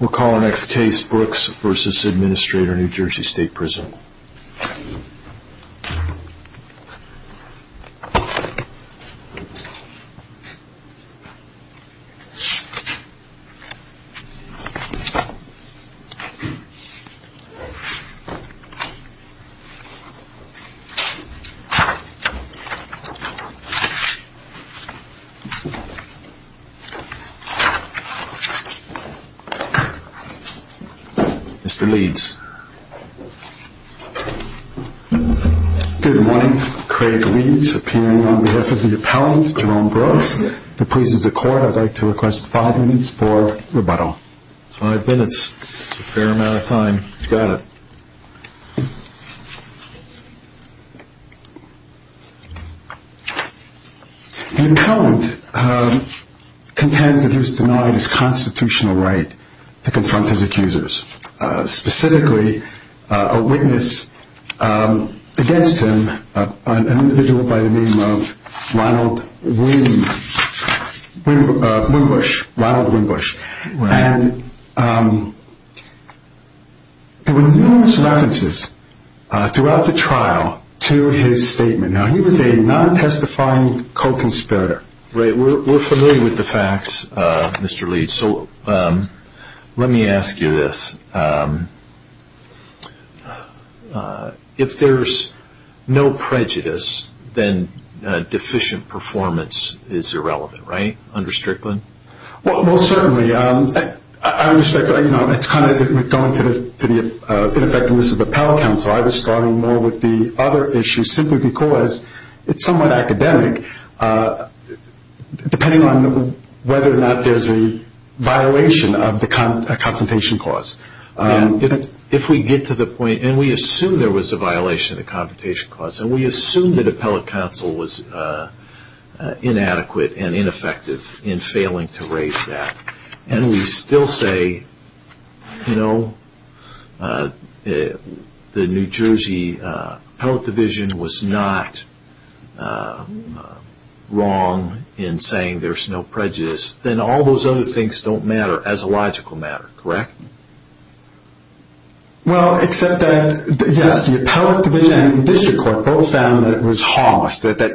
We'll call our next case Brooks v. Administrator, New Jersey State Prison. Mr. Leeds. Good morning. Craig Leeds, appearing on behalf of the appellant Jerome Brooks. The please of the court, I'd like to request five minutes for rebuttal. Five minutes. That's a fair amount of time. You got it. The appellant contends that he was denied his constitutional right to confront his accusers. Specifically, a witness against him, an individual by the name of Ronald Wimbush. There were numerous references throughout the trial to his statement. He was a non-testifying co-conspirator. We're familiar with the facts, Mr. Leeds. Let me ask you this. If there's no prejudice, then deficient performance is irrelevant, right? Under Strickland? Most certainly. I respect that. It's kind of going to the ineffectiveness of the appellate counsel. I was starting more with the other issue, simply because it's somewhat academic, depending on whether or not there's a violation of the confrontation clause. If we get to the point, and we assume there was a violation of the confrontation clause, and we assume that appellate counsel was inadequate and ineffective in failing to raise that, and we still say, the New Jersey appellate division was not wrong in saying there's no prejudice, then all those other things don't matter as a logical matter, correct? Well, except that, yes, the appellate division and the district court both found that it was harmless. Is that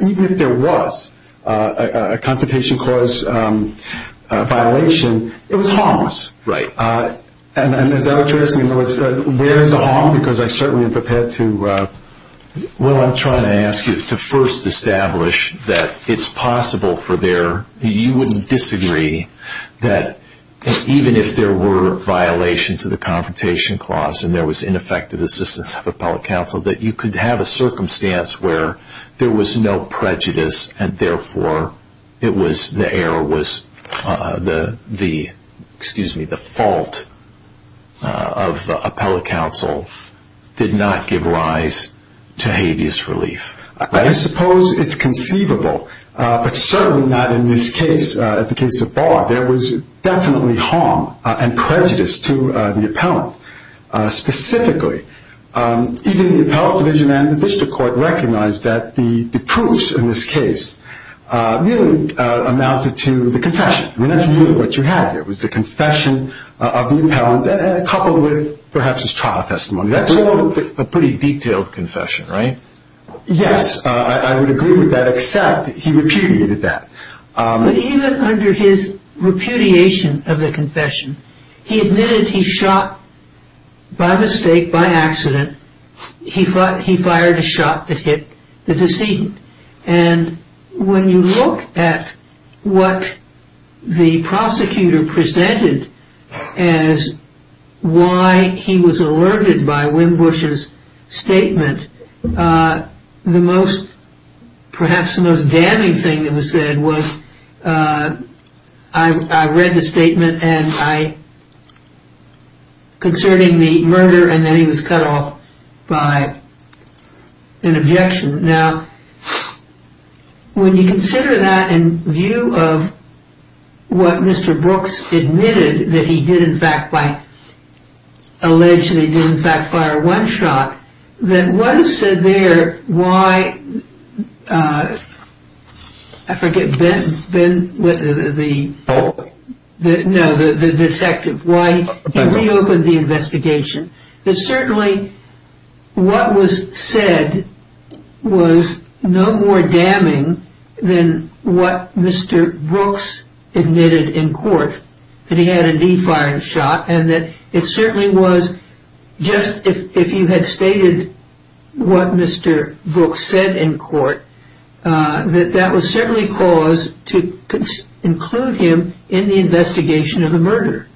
what you're asking? Where is the harm? I'm trying to ask you to first establish that it's possible for there, you wouldn't disagree, that even if there were violations of the confrontation clause, and there was ineffective assistance of appellate counsel, that you could have a circumstance where there was no prejudice, and therefore, the error was, excuse me, the fault of appellate counsel did not give rise to habeas relief. I suppose it's conceivable, but certainly not in this case, the case of Barr. There was definitely harm and prejudice to the appellant. Specifically, even the appellate division and the district court recognized that the proofs in this case really amounted to the confession. That's really what you have here, was the confession of the appellant, coupled with perhaps his trial testimony. That's all a pretty detailed confession, right? Yes, I would agree with that, except he repudiated that. But even under his repudiation of the confession, he admitted he shot by mistake, by accident, he fired a shot that hit the decedent. When you look at what the prosecutor presented as why he was alerted by Wim Bush's statement, the most, perhaps the most damning thing that was said was, I read the statement concerning the murder, and then he was cut off. By an objection. Now, when you consider that in view of what Mr. Brooks admitted that he did in fact by, alleged that he did in fact fire one shot, then what is said there, why I forget, Ben, the detective, why he reopened the investigation. It's certainly, I think what was said was no more damning than what Mr. Brooks admitted in court, that he had indeed fired a shot, and that it certainly was, just if you had stated what Mr. Brooks said in court, that that was certainly cause to include him in the investigation of the murder.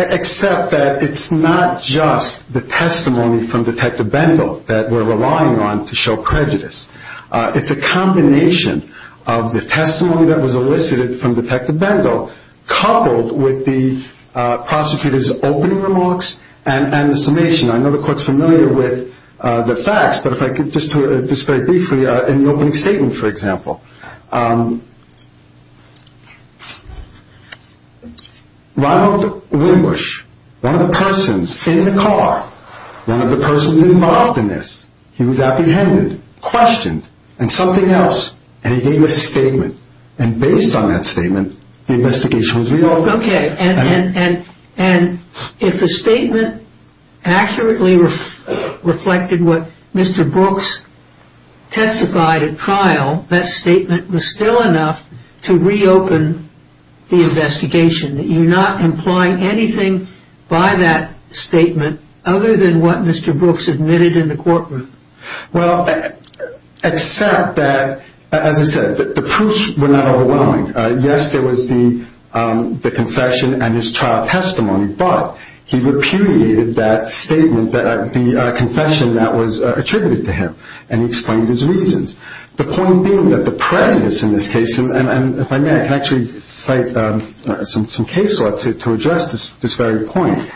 Except that it's not just the testimony from Detective Bendel that we're relying on to show prejudice. It's a combination of the testimony that was elicited from Detective Bendel, coupled with the prosecutor's opening remarks, and the summation. I know the court's familiar with the facts, but if I could just very briefly, in the opening statement for Mr. Brooks, Ronald Wimbush, one of the persons in the car, one of the persons involved in this, he was apprehended, questioned, and something else, and he gave this statement, and based on that statement, the investigation was reopened. Okay, and if the statement accurately reflected what Mr. Brooks testified at trial, that statement was still enough to reopen the investigation, that you're not implying anything by that statement other than what Mr. Brooks admitted in the courtroom? Well, except that, as I said, the proofs were not overwhelming. Yes, there was the confession and his trial testimony, but he repudiated that statement, the confession that was attributed to him, and he explained his reasons. The point being that the prejudice in this case, and if I may, I can actually cite some case law to address this very point.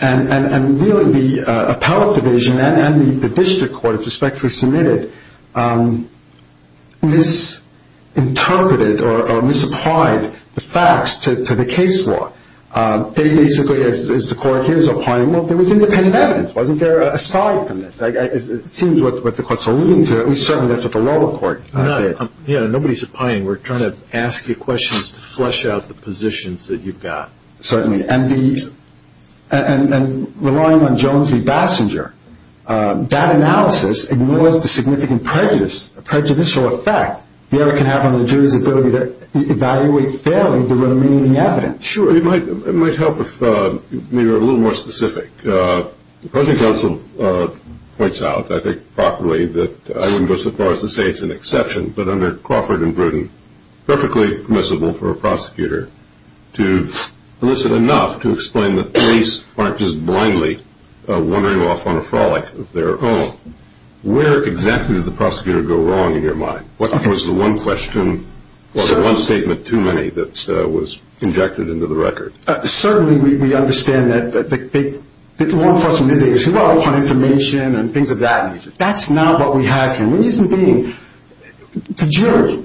And really, the appellate division and the district court, if respectfully submitted, misinterpreted or misapplied the facts to the case law. They basically, as the court is applying, well, there was independent evidence. Wasn't there aside from this? It seems what the court's alluding to, at least certainly after the lower court did. Yeah, nobody's applying. We're trying to ask you questions to flush out the positions that you've got. Certainly, and relying on Jones v. Bassinger, that analysis ignores the significant prejudicial effect the error can have on the jury's ability to evaluate fairly the remaining evidence. Sure, it might help if you were a little more specific. The present counsel points out, I think properly, that I wouldn't go so far as to say it's an exception, but under Crawford and Bruton, perfectly permissible for a prosecutor to elicit enough to explain that police aren't just blindly wandering off on a frolic of their own. Where exactly did the prosecutor go wrong in your mind? What was the one question or the one statement too many that was injected into the record? Certainly, we understand that the law enforcement is able to see well upon information and things of that nature. That's not what we have here. The reason being, the jury,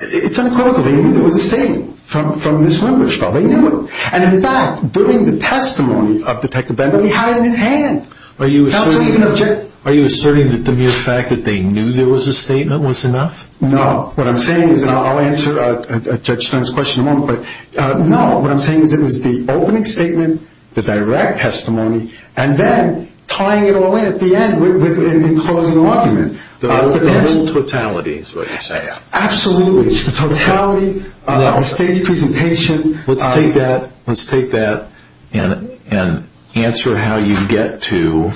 it's uncritical. They knew there was a statement from Ms. Windershaw. They knew it. In fact, during the testimony of Detective Bender, we had it in his hand. Are you asserting that the mere fact that they knew there was a statement was enough? No. What I'm saying is, and I'll answer Judge Stern's question in a moment, but no. What I'm saying is it was the opening statement, the direct testimony, and then tying it all in at the end with an enclosing argument. The whole totality is what you're saying. Absolutely. Totality, a staged presentation. Let's take that and answer how you get to,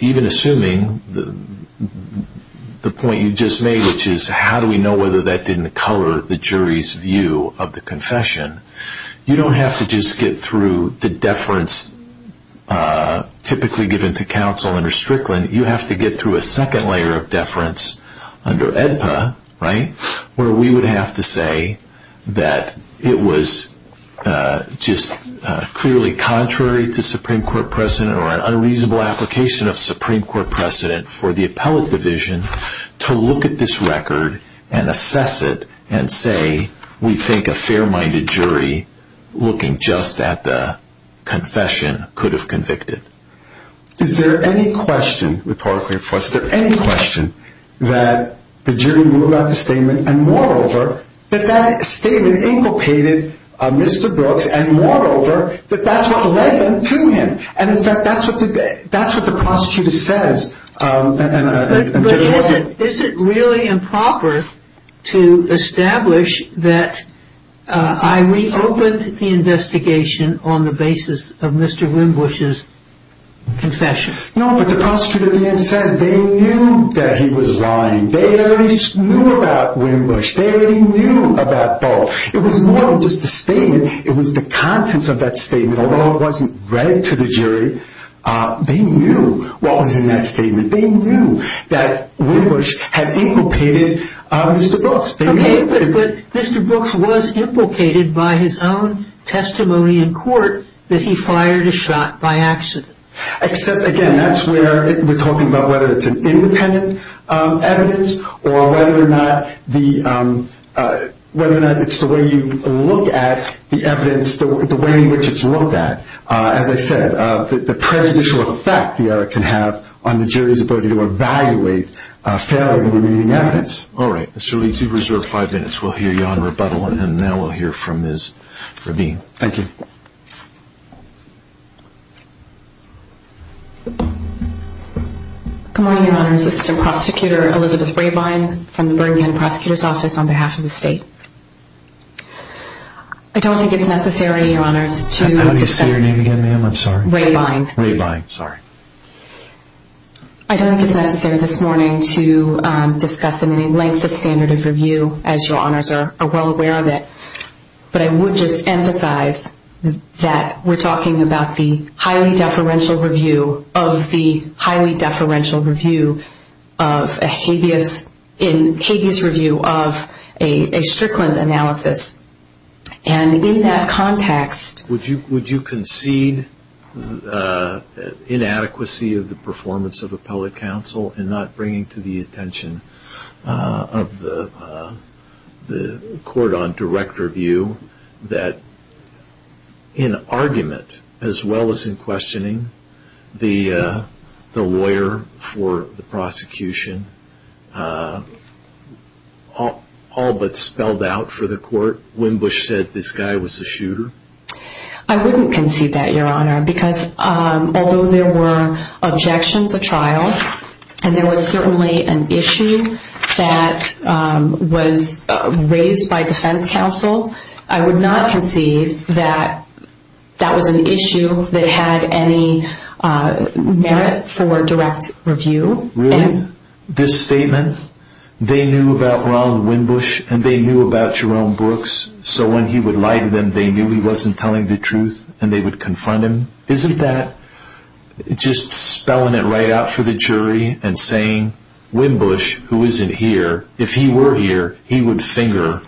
even assuming the point you just made, which is how do we know whether that didn't color the jury's view of the confession. You don't have to just get through the deference typically given to counsel under Strickland. You have to get through a second layer of deference under AEDPA where we would have to say that it was just clearly contrary to Supreme Court precedent or an unreasonable application of Supreme Court precedent for the appellate division to look at this record and assess it and say we think a fair-minded jury looking just at the confession could have convicted. Is there any question, rhetorically of course, is there any question that the jury knew about the statement and moreover that that statement inculcated Mr. Brooks and moreover that that's what led them to him? And in fact, that's what the prosecutor says. But is it really improper to establish that I reopened the investigation on the basis of Mr. Winbush's confession? No, but the prosecutor then said they knew that he was lying. They already knew about Winbush. They already knew about Ball. It was more than just a statement. It was the contents of that statement. Although it wasn't read to the jury, they knew what was in that statement. They knew that Winbush had inculcated Mr. Brooks. Okay, but Mr. Brooks was implicated by his own testimony in court that he fired a shot by accident. Again, that's where we're talking about whether it's an independent evidence or whether or not it's the way you look at the evidence, the way in which it's looked at. As I said, the prejudicial effect the error can have on the jury's ability to evaluate fairly the remaining evidence. All right, Mr. Lee, you do reserve five minutes. We'll hear you on rebuttal and then we'll hear from Ms. Rabine. Thank you. Good morning, Your Honors. Assistant Prosecutor Elizabeth Rabine from the Bergen Prosecutor's Office on behalf of the state. I don't think it's necessary, Your Honors, to discuss How do you say your name again, ma'am? I'm sorry. Rabine. Rabine, sorry. I don't think it's necessary this morning to discuss in any length the standard of review as Your Honors are well aware of it, but I would just emphasize that we're talking about the highly deferential review of the highly deferential review of a habeas review of a Strickland analysis. And in that context Would you concede inadequacy of the performance of appellate counsel in not bringing to the attention of the court on direct review that in argument as well as in questioning the lawyer for the prosecution all but spelled out for the court, Wimbush said this guy was a shooter? I wouldn't concede that, Your Honor, because although there were objections at trial and there was certainly an issue that was raised by defense counsel, I would not concede that that was an issue that had any merit for direct review. Really? This statement? They knew about Roland Wimbush and they knew about Jerome Brooks, so when he would lie to them they knew he wasn't telling the truth and they would confront him? Isn't that just spelling it right out for the jury and saying Wimbush, who isn't here, if he were here he would finger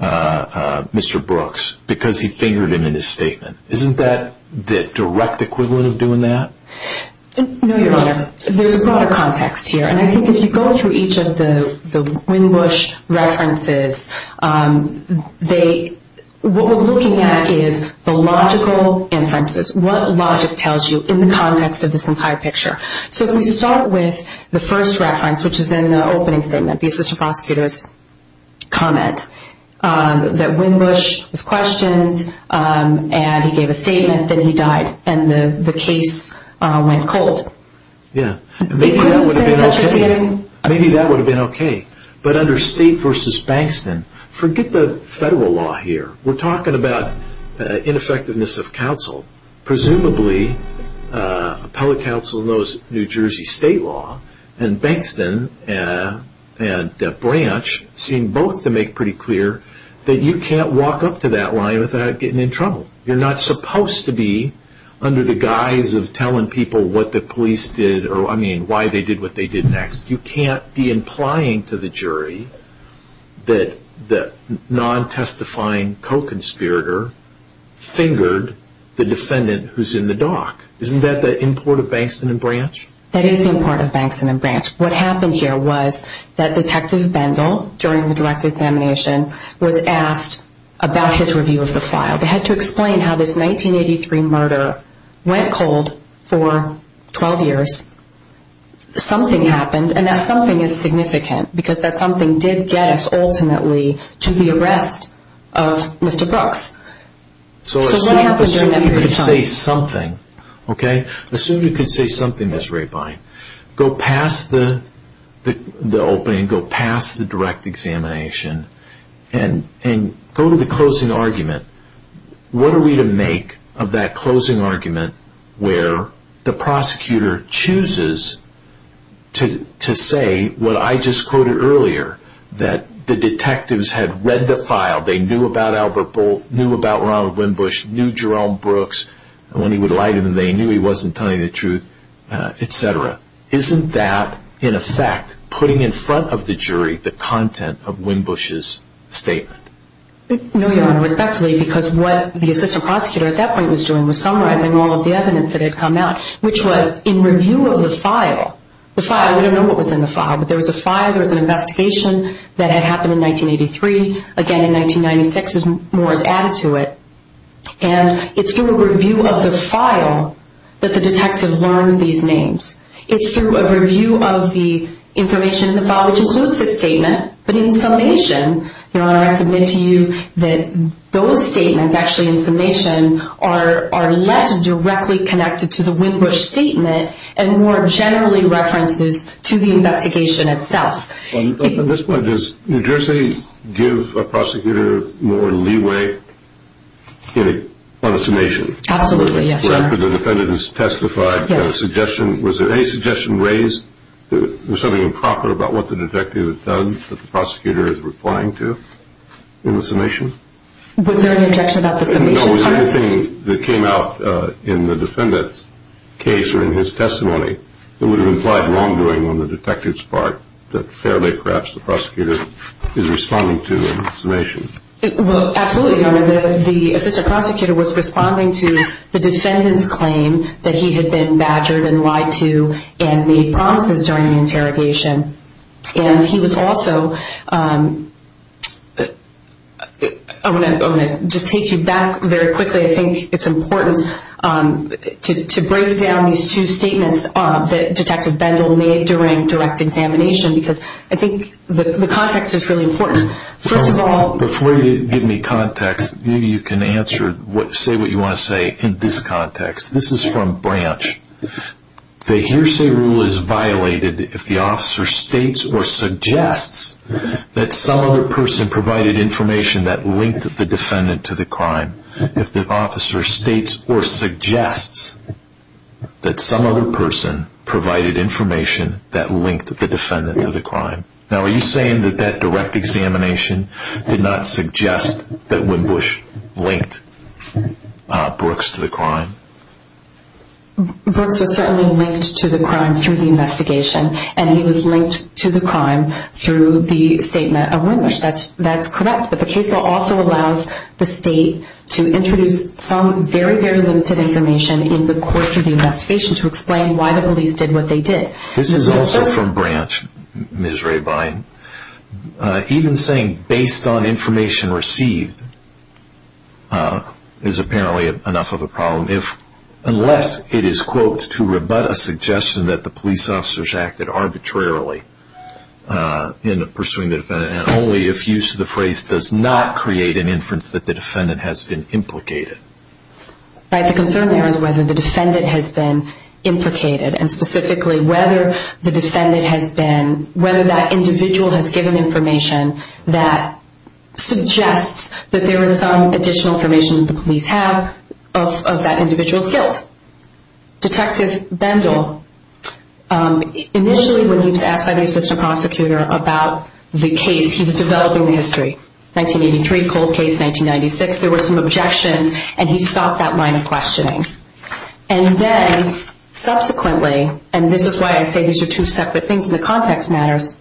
Mr. Brooks because he fingered him in his statement. Isn't that the direct equivalent of doing that? No, Your Honor. There's a lot of context here and I think if you go through each of the what we're looking at is the logical inferences, what logic tells you in the context of this entire picture. So if we start with the first reference, which is in the opening statement, the assistant prosecutor's comment, that Wimbush was questioned and he gave a statement, then he died and the case went cold. Maybe that would have been okay. But under State v. Bankston, forget the federal law here. We're talking about ineffectiveness of counsel. Presumably appellate counsel knows New Jersey state law and Bankston and Branch seem both to make pretty clear that you can't walk up to that line without getting in trouble. You're not supposed to be under the guise of telling people what the police did or, I mean, why they did what they did next. You can't be implying to the jury that the non-testifying co-conspirator fingered the defendant who's in the dock. Isn't that the import of Bankston and Branch? That is the import of Bankston and Branch. What happened here was that Detective Bendel during the direct examination was asked about his review of the file. They had to explain how this 1983 murder went cold for 12 years. Something happened and that something is significant because that something did get us ultimately to the arrest of Mr. Brooks. So what happened during that period of time? Assume you can say something, okay? Assume you can say something, Ms. Rapine. Go past the opening, go past the direct examination, and go to the closing argument. What are we to make of that closing argument where the prosecutor chooses to say what I just quoted earlier, that the detectives had read the file, they knew about Albert Bolt, knew about Ronald Winbush, knew Jerome Brooks, and when he would lie to them they knew he wasn't telling the truth, etc. Isn't that, in effect, putting in front of the jury the content of Winbush's statement? No, Your Honor, respectfully, because what the assistant prosecutor at that point was doing was summarizing all of the evidence that had come out, which was in review of the file, the file, we don't know what was in the file, but there was a file, there was an investigation that had happened in 1983, again in 1996, more is added to it, and it's through a review of the file that the detective learns these names. It's through a review of the information in the file, which includes the statement, but in summation, Your Honor, I submit to you that those statements actually in summation are less directly connected to the Winbush statement and more generally references to the investigation itself. At this point, does New Jersey give a prosecutor more leeway on a summation? Absolutely, yes, Your Honor. After the defendant has testified, was there any suggestion raised, was something improper about what the detective had done that the prosecutor is replying to in the summation? Was there an objection about the summation? No, was there anything that came out in the defendant's case or in his testimony that would have implied wrongdoing on the detective's part that fairly perhaps the prosecutor is responding to in summation? Well, absolutely, Your Honor. The assistant prosecutor was responding to the defendant's claim that he had been badgered and lied to and made promises during the interrogation. And he was also, I want to just take you back very quickly, I think it's important to break down these two statements that Detective Bendel made during direct examination because I think the context is really important. First of all... Before you give me context, maybe you can answer, say what you want to say in this context. This is from Branch. The hearsay rule is violated if the officer states or suggests that some other person provided information that linked the defendant to the crime. Now, are you saying that that direct examination did not suggest that Wimbush linked Brooks to the crime? Brooks was certainly linked to the crime through the investigation and he was linked to the crime through the statement of Wimbush. That's correct, but the case bill also allows the to introduce some very, very limited information in the course of the investigation to explain why the police did what they did. This is also from Branch, Ms. Rabine. Even saying based on information received is apparently enough of a problem unless it is, quote, to rebut a suggestion that the police officers acted arbitrarily in pursuing the defendant and only if use of the phrase does not create an inference that the defendant has been implicated. The concern there is whether the defendant has been implicated and specifically whether the defendant has been, whether that individual has given information that suggests that there is some additional information that the police have of that individual's guilt. Detective Bendel, initially when he was asked by the assistant prosecutor about the case, he was developing the history, 1983 cold case, 1996, there were some objections and he stopped that line of questioning. And then subsequently, and this is why I say these are two separate things and the context matters,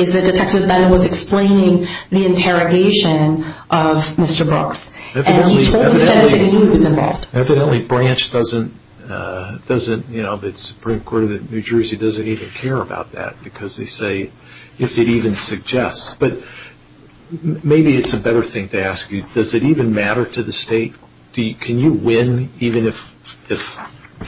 is that Detective Bendel was explaining the interrogation of Mr. Brooks and he told the defendant that he was involved. Evidently Branch doesn't, the Supreme Court of New Jersey doesn't even care about that because they say, if it even suggests. But maybe it's a better thing to ask you, does it even matter to the state? Can you win even if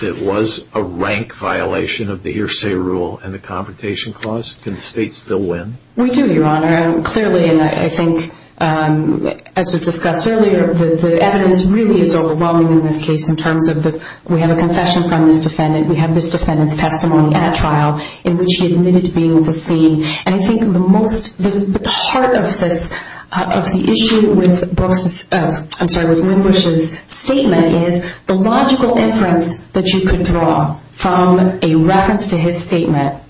it was a rank violation of the hearsay rule and the Confrontation Clause? Can the state still win? We do, Your Honor. Clearly, and I think, as was discussed earlier, the evidence really is overwhelming in this case in terms of the, we have a confession from this defendant, we have this defendant's testimony at trial in which he admitted to being at the scene. And I think the most, the heart of this, of the issue with Brooks's, I'm sorry, with Winbush's statement is the logical inference that you could draw from a reference to his statement that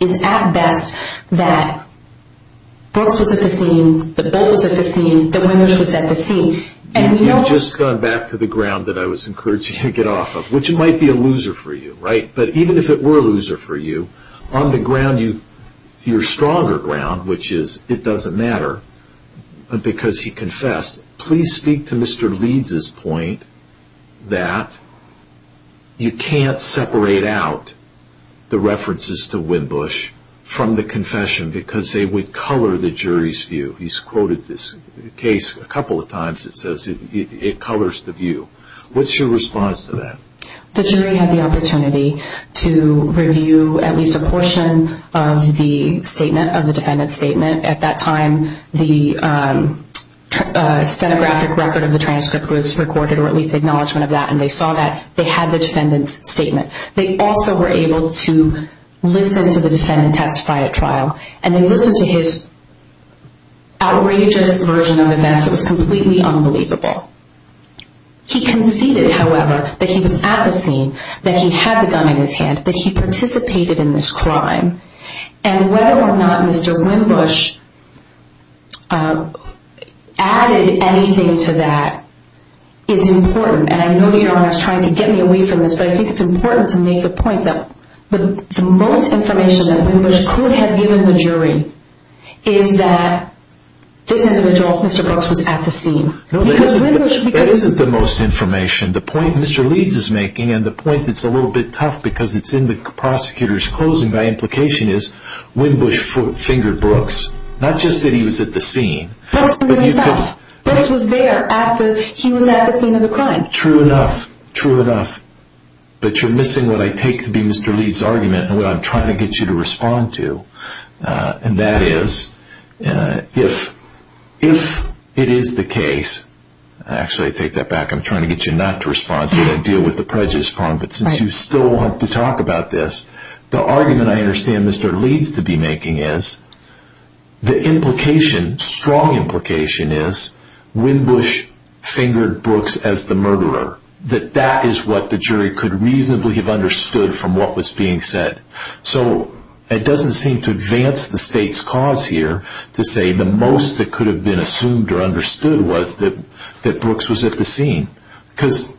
is at best that Brooks was at the scene, that Bolt was at the scene, that Winbush was at the scene. You've just gone back to the ground that I was encouraging you to get off of, which might be a loser for you, right? But even if it were a loser for you, on the ground, your stronger ground, which is it doesn't matter, because he confessed, please speak to Mr. Leeds' point that you can't separate out the references to Winbush from the confession because they would color the jury's view. He's quoted this case a couple of times that says it colors the view. What's your response to that? The jury had the opportunity to review at least a portion of the statement, of the defendant's statement. At that time, the stenographic record of the transcript was recorded, or at least acknowledgement They also were able to listen to the defendant testify at trial. And they listened to his outrageous version of events that was completely unbelievable. He conceded, however, that he was at the scene, that he had the gun in his hand, that he participated in this crime. And whether or not Mr. Winbush added anything to that is important. And I know your Honor is trying to get me away from this, but I think it's important to make the point that the most information that Winbush could have given the jury is that this individual, Mr. Brooks, was at the scene. That isn't the most information. The point Mr. Leeds is making, and the point that's a little bit tough because it's in the prosecutor's closing by implication, is Winbush fingered Brooks. Not just that he was at the scene. Brooks was there at the scene of the crime. True enough. True enough. But you're missing what I take to be Mr. Leeds' argument and what I'm trying to get you to respond to. And that is, if it is the case, actually I take that back, I'm trying to get you not to respond to it. I deal with the prejudice problem. But since you still want to talk about this, the argument I understand Mr. Leeds to be that that is what the jury could reasonably have understood from what was being said. So it doesn't seem to advance the state's cause here to say the most that could have been assumed or understood was that Brooks was at the scene. Because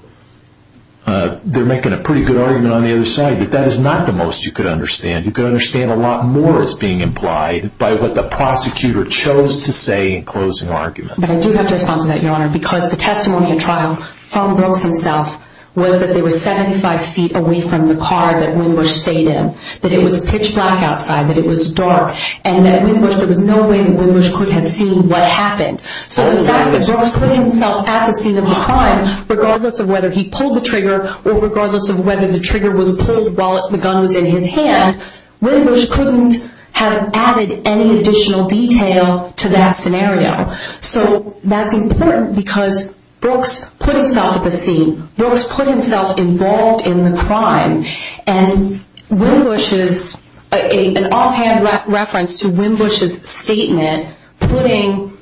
they're making a pretty good argument on the other side, but that is not the most you could understand. You could understand a lot more is being implied by what the prosecutor chose to say in closing argument. But I do have to respond to that, Your Honor, because the testimony in trial from Brooks himself was that they were 75 feet away from the car that Wynbush stayed in. That it was pitch black outside. That it was dark. And that Wynbush, there was no way that Wynbush could have seen what happened. So the fact that Brooks put himself at the scene of the crime, regardless of whether he pulled the trigger or regardless of whether the trigger was pulled while the gun was in his hand, Wynbush couldn't have added any additional detail to that scenario. So that's important because Brooks put himself at the scene. Brooks put himself involved in the crime. And Wynbush's, an offhand reference to Wynbush's statement putting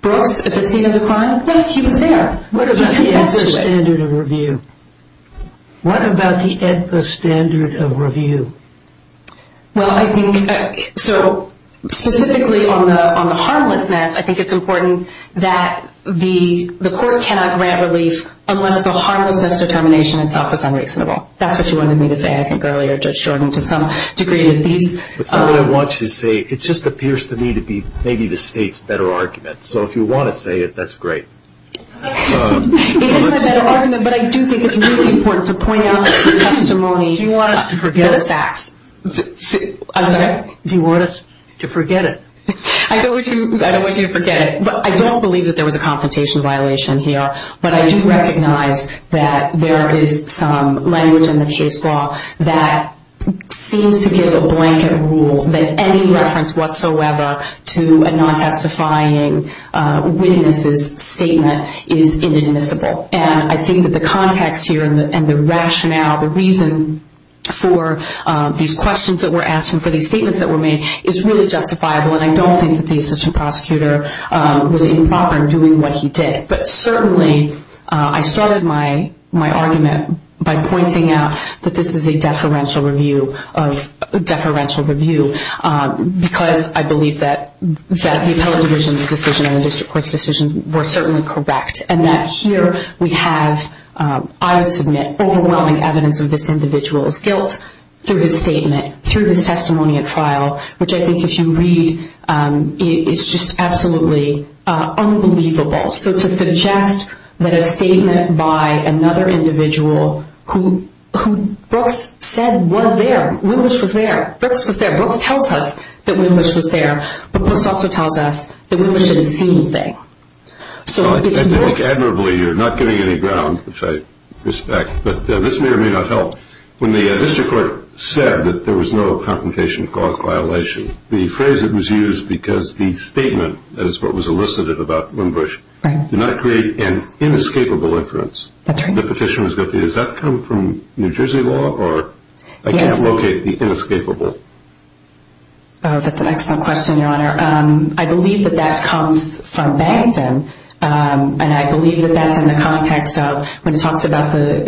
Brooks at the scene of the crime? Yeah, he was there. He confessed to it. What about the EDPA standard of review? What about the EDPA standard of review? Well, I think, so specifically on the harmlessness, I think it's important that the court cannot grant relief unless the harmlessness determination itself is unreasonable. That's what you wanted me to say, I think, earlier, Judge Jordan, to some degree. What I want you to say, it just appears to me to be maybe the State's better argument. So if you want to say it, that's great. It is a better argument, but I do think it's really important to point out that the testimony does fax. Do you want us to forget it? I'm sorry? Do you want us to forget it? I don't want you to forget it. I don't believe that there was a confrontation violation here, but I do recognize that there is some language in the case law that seems to give a blanket rule that any reference whatsoever to a non-testifying witness's statement is inadmissible. And I think that the context here and the rationale, the reason for these questions that were asked and for these statements that were made is really justifiable, and I don't think that the assistant prosecutor was improper in doing what he did. But certainly, I started my argument by pointing out that this is a deferential review of deferential review because I believe that the appellate division's decision and the I would submit overwhelming evidence of this individual's guilt through his statement, through his testimony at trial, which I think if you read, it's just absolutely unbelievable. So to suggest that a statement by another individual who Brooks said was there, Winbush was there, Brooks was there, Brooks tells us that Winbush was there, but Brooks also tells us that Winbush didn't see anything. Admirably, you're not giving any ground, which I respect, but this may or may not help. When the district court said that there was no confrontation of cause violation, the phrase that was used because the statement, that is what was elicited about Winbush, did not create an inescapable inference. That's right. The petitioner was guilty. Does that come from New Jersey law, or I can't locate the inescapable? Oh, that's an excellent question, Your Honor. I believe that that comes from Bankston, and I believe that that's in the context of when it talks about the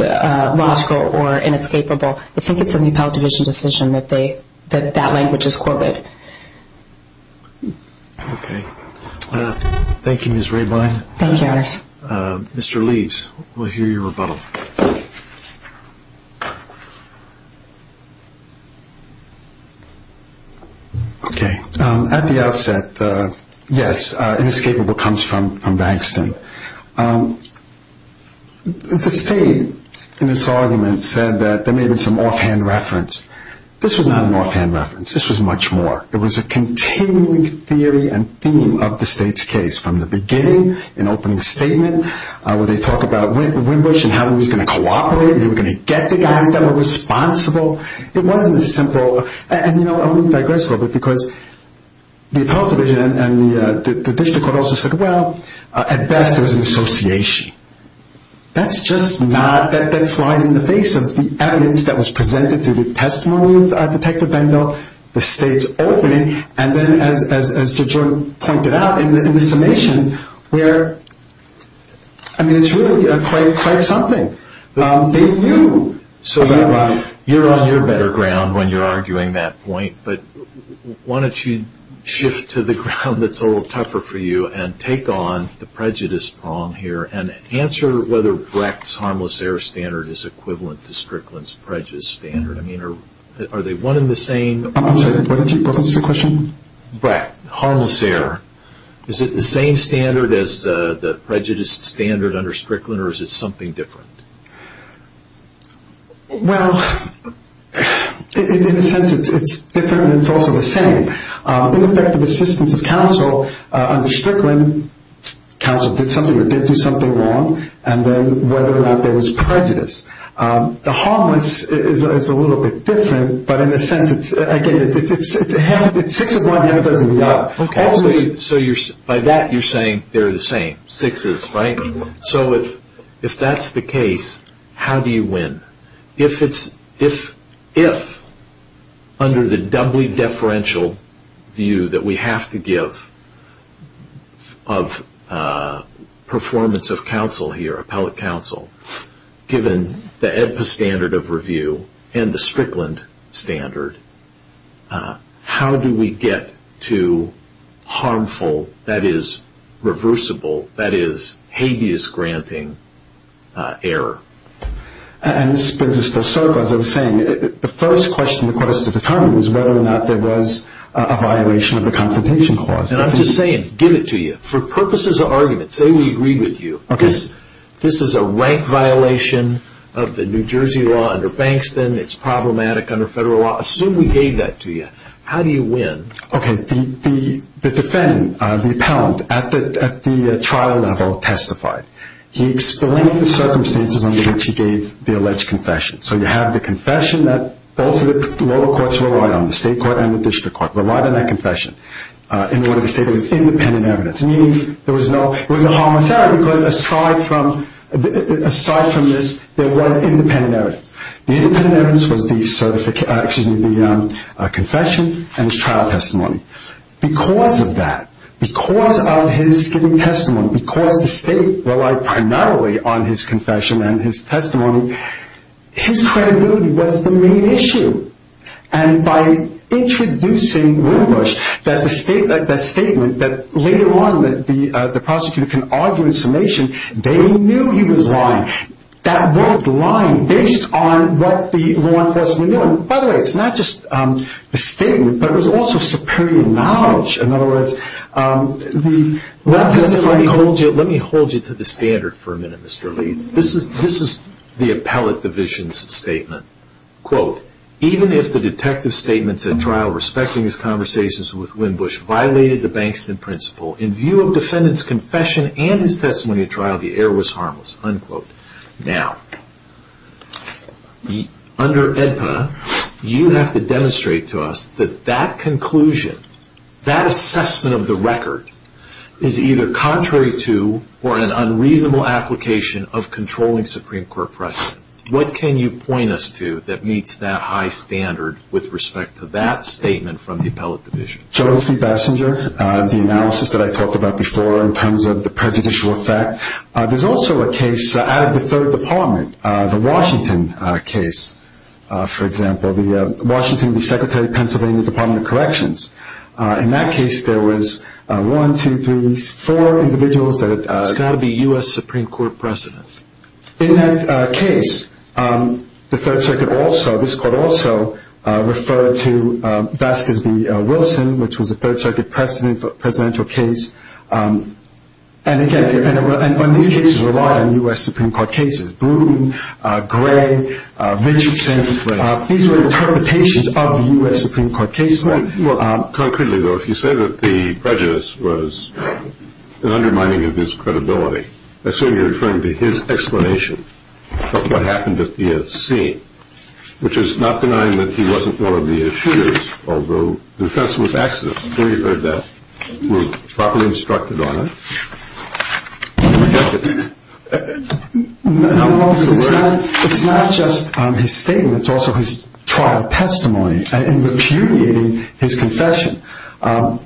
logical or inescapable. I think it's in the appellate division decision that that language is quoted. Okay. Thank you, Ms. Rabine. Thank you, Your Honor. Mr. Leeds, we'll hear your rebuttal. Okay. At the outset, yes, inescapable comes from Bankston. The State, in its argument, said that there may have been some offhand reference. This was not an offhand reference. This was much more. It was a continuing theory and theme of the State's case, from the beginning, in opening and they were going to get the guys that were responsible. It wasn't a simple, and I'm going to digress a little bit, because the appellate division and the district court also said, well, at best, there was an association. That's just not, that flies in the face of the evidence that was presented through the testimony of Detective Bendell, the State's opening, and then, as Judge Jordan pointed out, in the summation, where, I mean, it's really quite something. They knew. You're on your better ground when you're arguing that point, but why don't you shift to the ground that's a little tougher for you and take on the prejudice prong here and answer whether Brecht's harmless error standard is equivalent to Strickland's prejudice standard. I mean, are they one and the same? I'm sorry. Why don't you pose the question? Right. Harmless error. Is it the same standard as the prejudice standard under Strickland, or is it something different? Well, in a sense, it's different, and it's also the same. The effective assistance of counsel under Strickland, counsel did something or did do something wrong, and then whether or not there was prejudice. The harmless is a little bit different, but in a sense, again, it's six of one, the other doesn't matter. Okay. So by that, you're saying they're the same, sixes, right? Mm-hmm. So if that's the case, how do you win? If under the doubly deferential view that we have to give of performance of counsel given the EDPA standard of review and the Strickland standard, how do we get to harmful, that is, reversible, that is, habeas granting error? And as I was saying, the first question the court has to determine is whether or not there was a violation of the Confrontation Clause. And I'm just saying, give it to you. For purposes of argument, say we agreed with you. Okay. This is a rank violation of the New Jersey law under Bankston. It's problematic under federal law. Assume we gave that to you. How do you win? Okay. The defendant, the appellant, at the trial level testified. He explained the circumstances under which he gave the alleged confession. So you have the confession that both of the lower courts relied on, the state court and the district court relied on that confession in order to say there was independent evidence, meaning there was no, it was a homicide because aside from this, there was independent evidence. The independent evidence was the confession and his trial testimony. Because of that, because of his giving testimony, because the state relied primarily on his confession and his testimony, his credibility was the main issue. And by introducing Wilbush, that statement that later on the prosecutor can argue in summation, they knew he was lying. That world lied based on what the law enforcement knew. And by the way, it's not just the statement, but it was also superior knowledge. In other words, the- Let me hold you to the standard for a minute, Mr. Leeds. This is the appellate division's statement. Quote, even if the detective's statements at trial respecting his conversations with Wilbush violated the Bankston principle, in view of defendant's confession and his testimony at trial, the error was harmless. Unquote. Now, under AEDPA, you have to demonstrate to us that that conclusion, that assessment of the record, is either contrary to or an unreasonable application of controlling Supreme Court precedent. What can you point us to that meets that high standard with respect to that statement from the appellate division? Jody Bessinger, the analysis that I talked about before in terms of the prejudicial effect. There's also a case out of the Third Department, the Washington case, for example. The Washington, the Secretary of Pennsylvania Department of Corrections. In that case, there was one, two, three, four individuals that- It's got to be U.S. Supreme Court precedent. In that case, the Third Circuit also, this court also, referred to Vasquez v. Wilson, which was a Third Circuit presidential case. And again, these cases relied on U.S. Supreme Court cases. Bruton, Gray, Richardson. These were interpretations of the U.S. Supreme Court case law. Well, concretely, though, if you say that the prejudice was an undermining of his credibility, I assume you're referring to his explanation of what happened at the scene, which is not denying that he wasn't one of the shooters, although the offense was accident. I'm sure you've heard that. We're properly instructed on it. No, it's not just his statement. It's also his trial testimony in repudiating his confession. All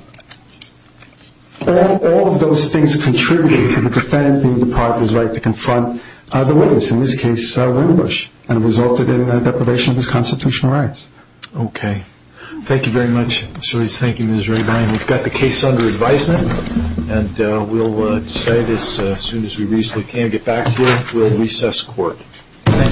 of those things contributed to the defendant being deprived of his right to confront the witness, in this case, Windbush, and resulted in a deprivation of his constitutional rights. Okay. Thank you very much. Thank you, Ms. Rabine. We've got the case under advisement. And we'll decide as soon as we reasonably can get back to you. We'll recess court. Thank you. Thank you.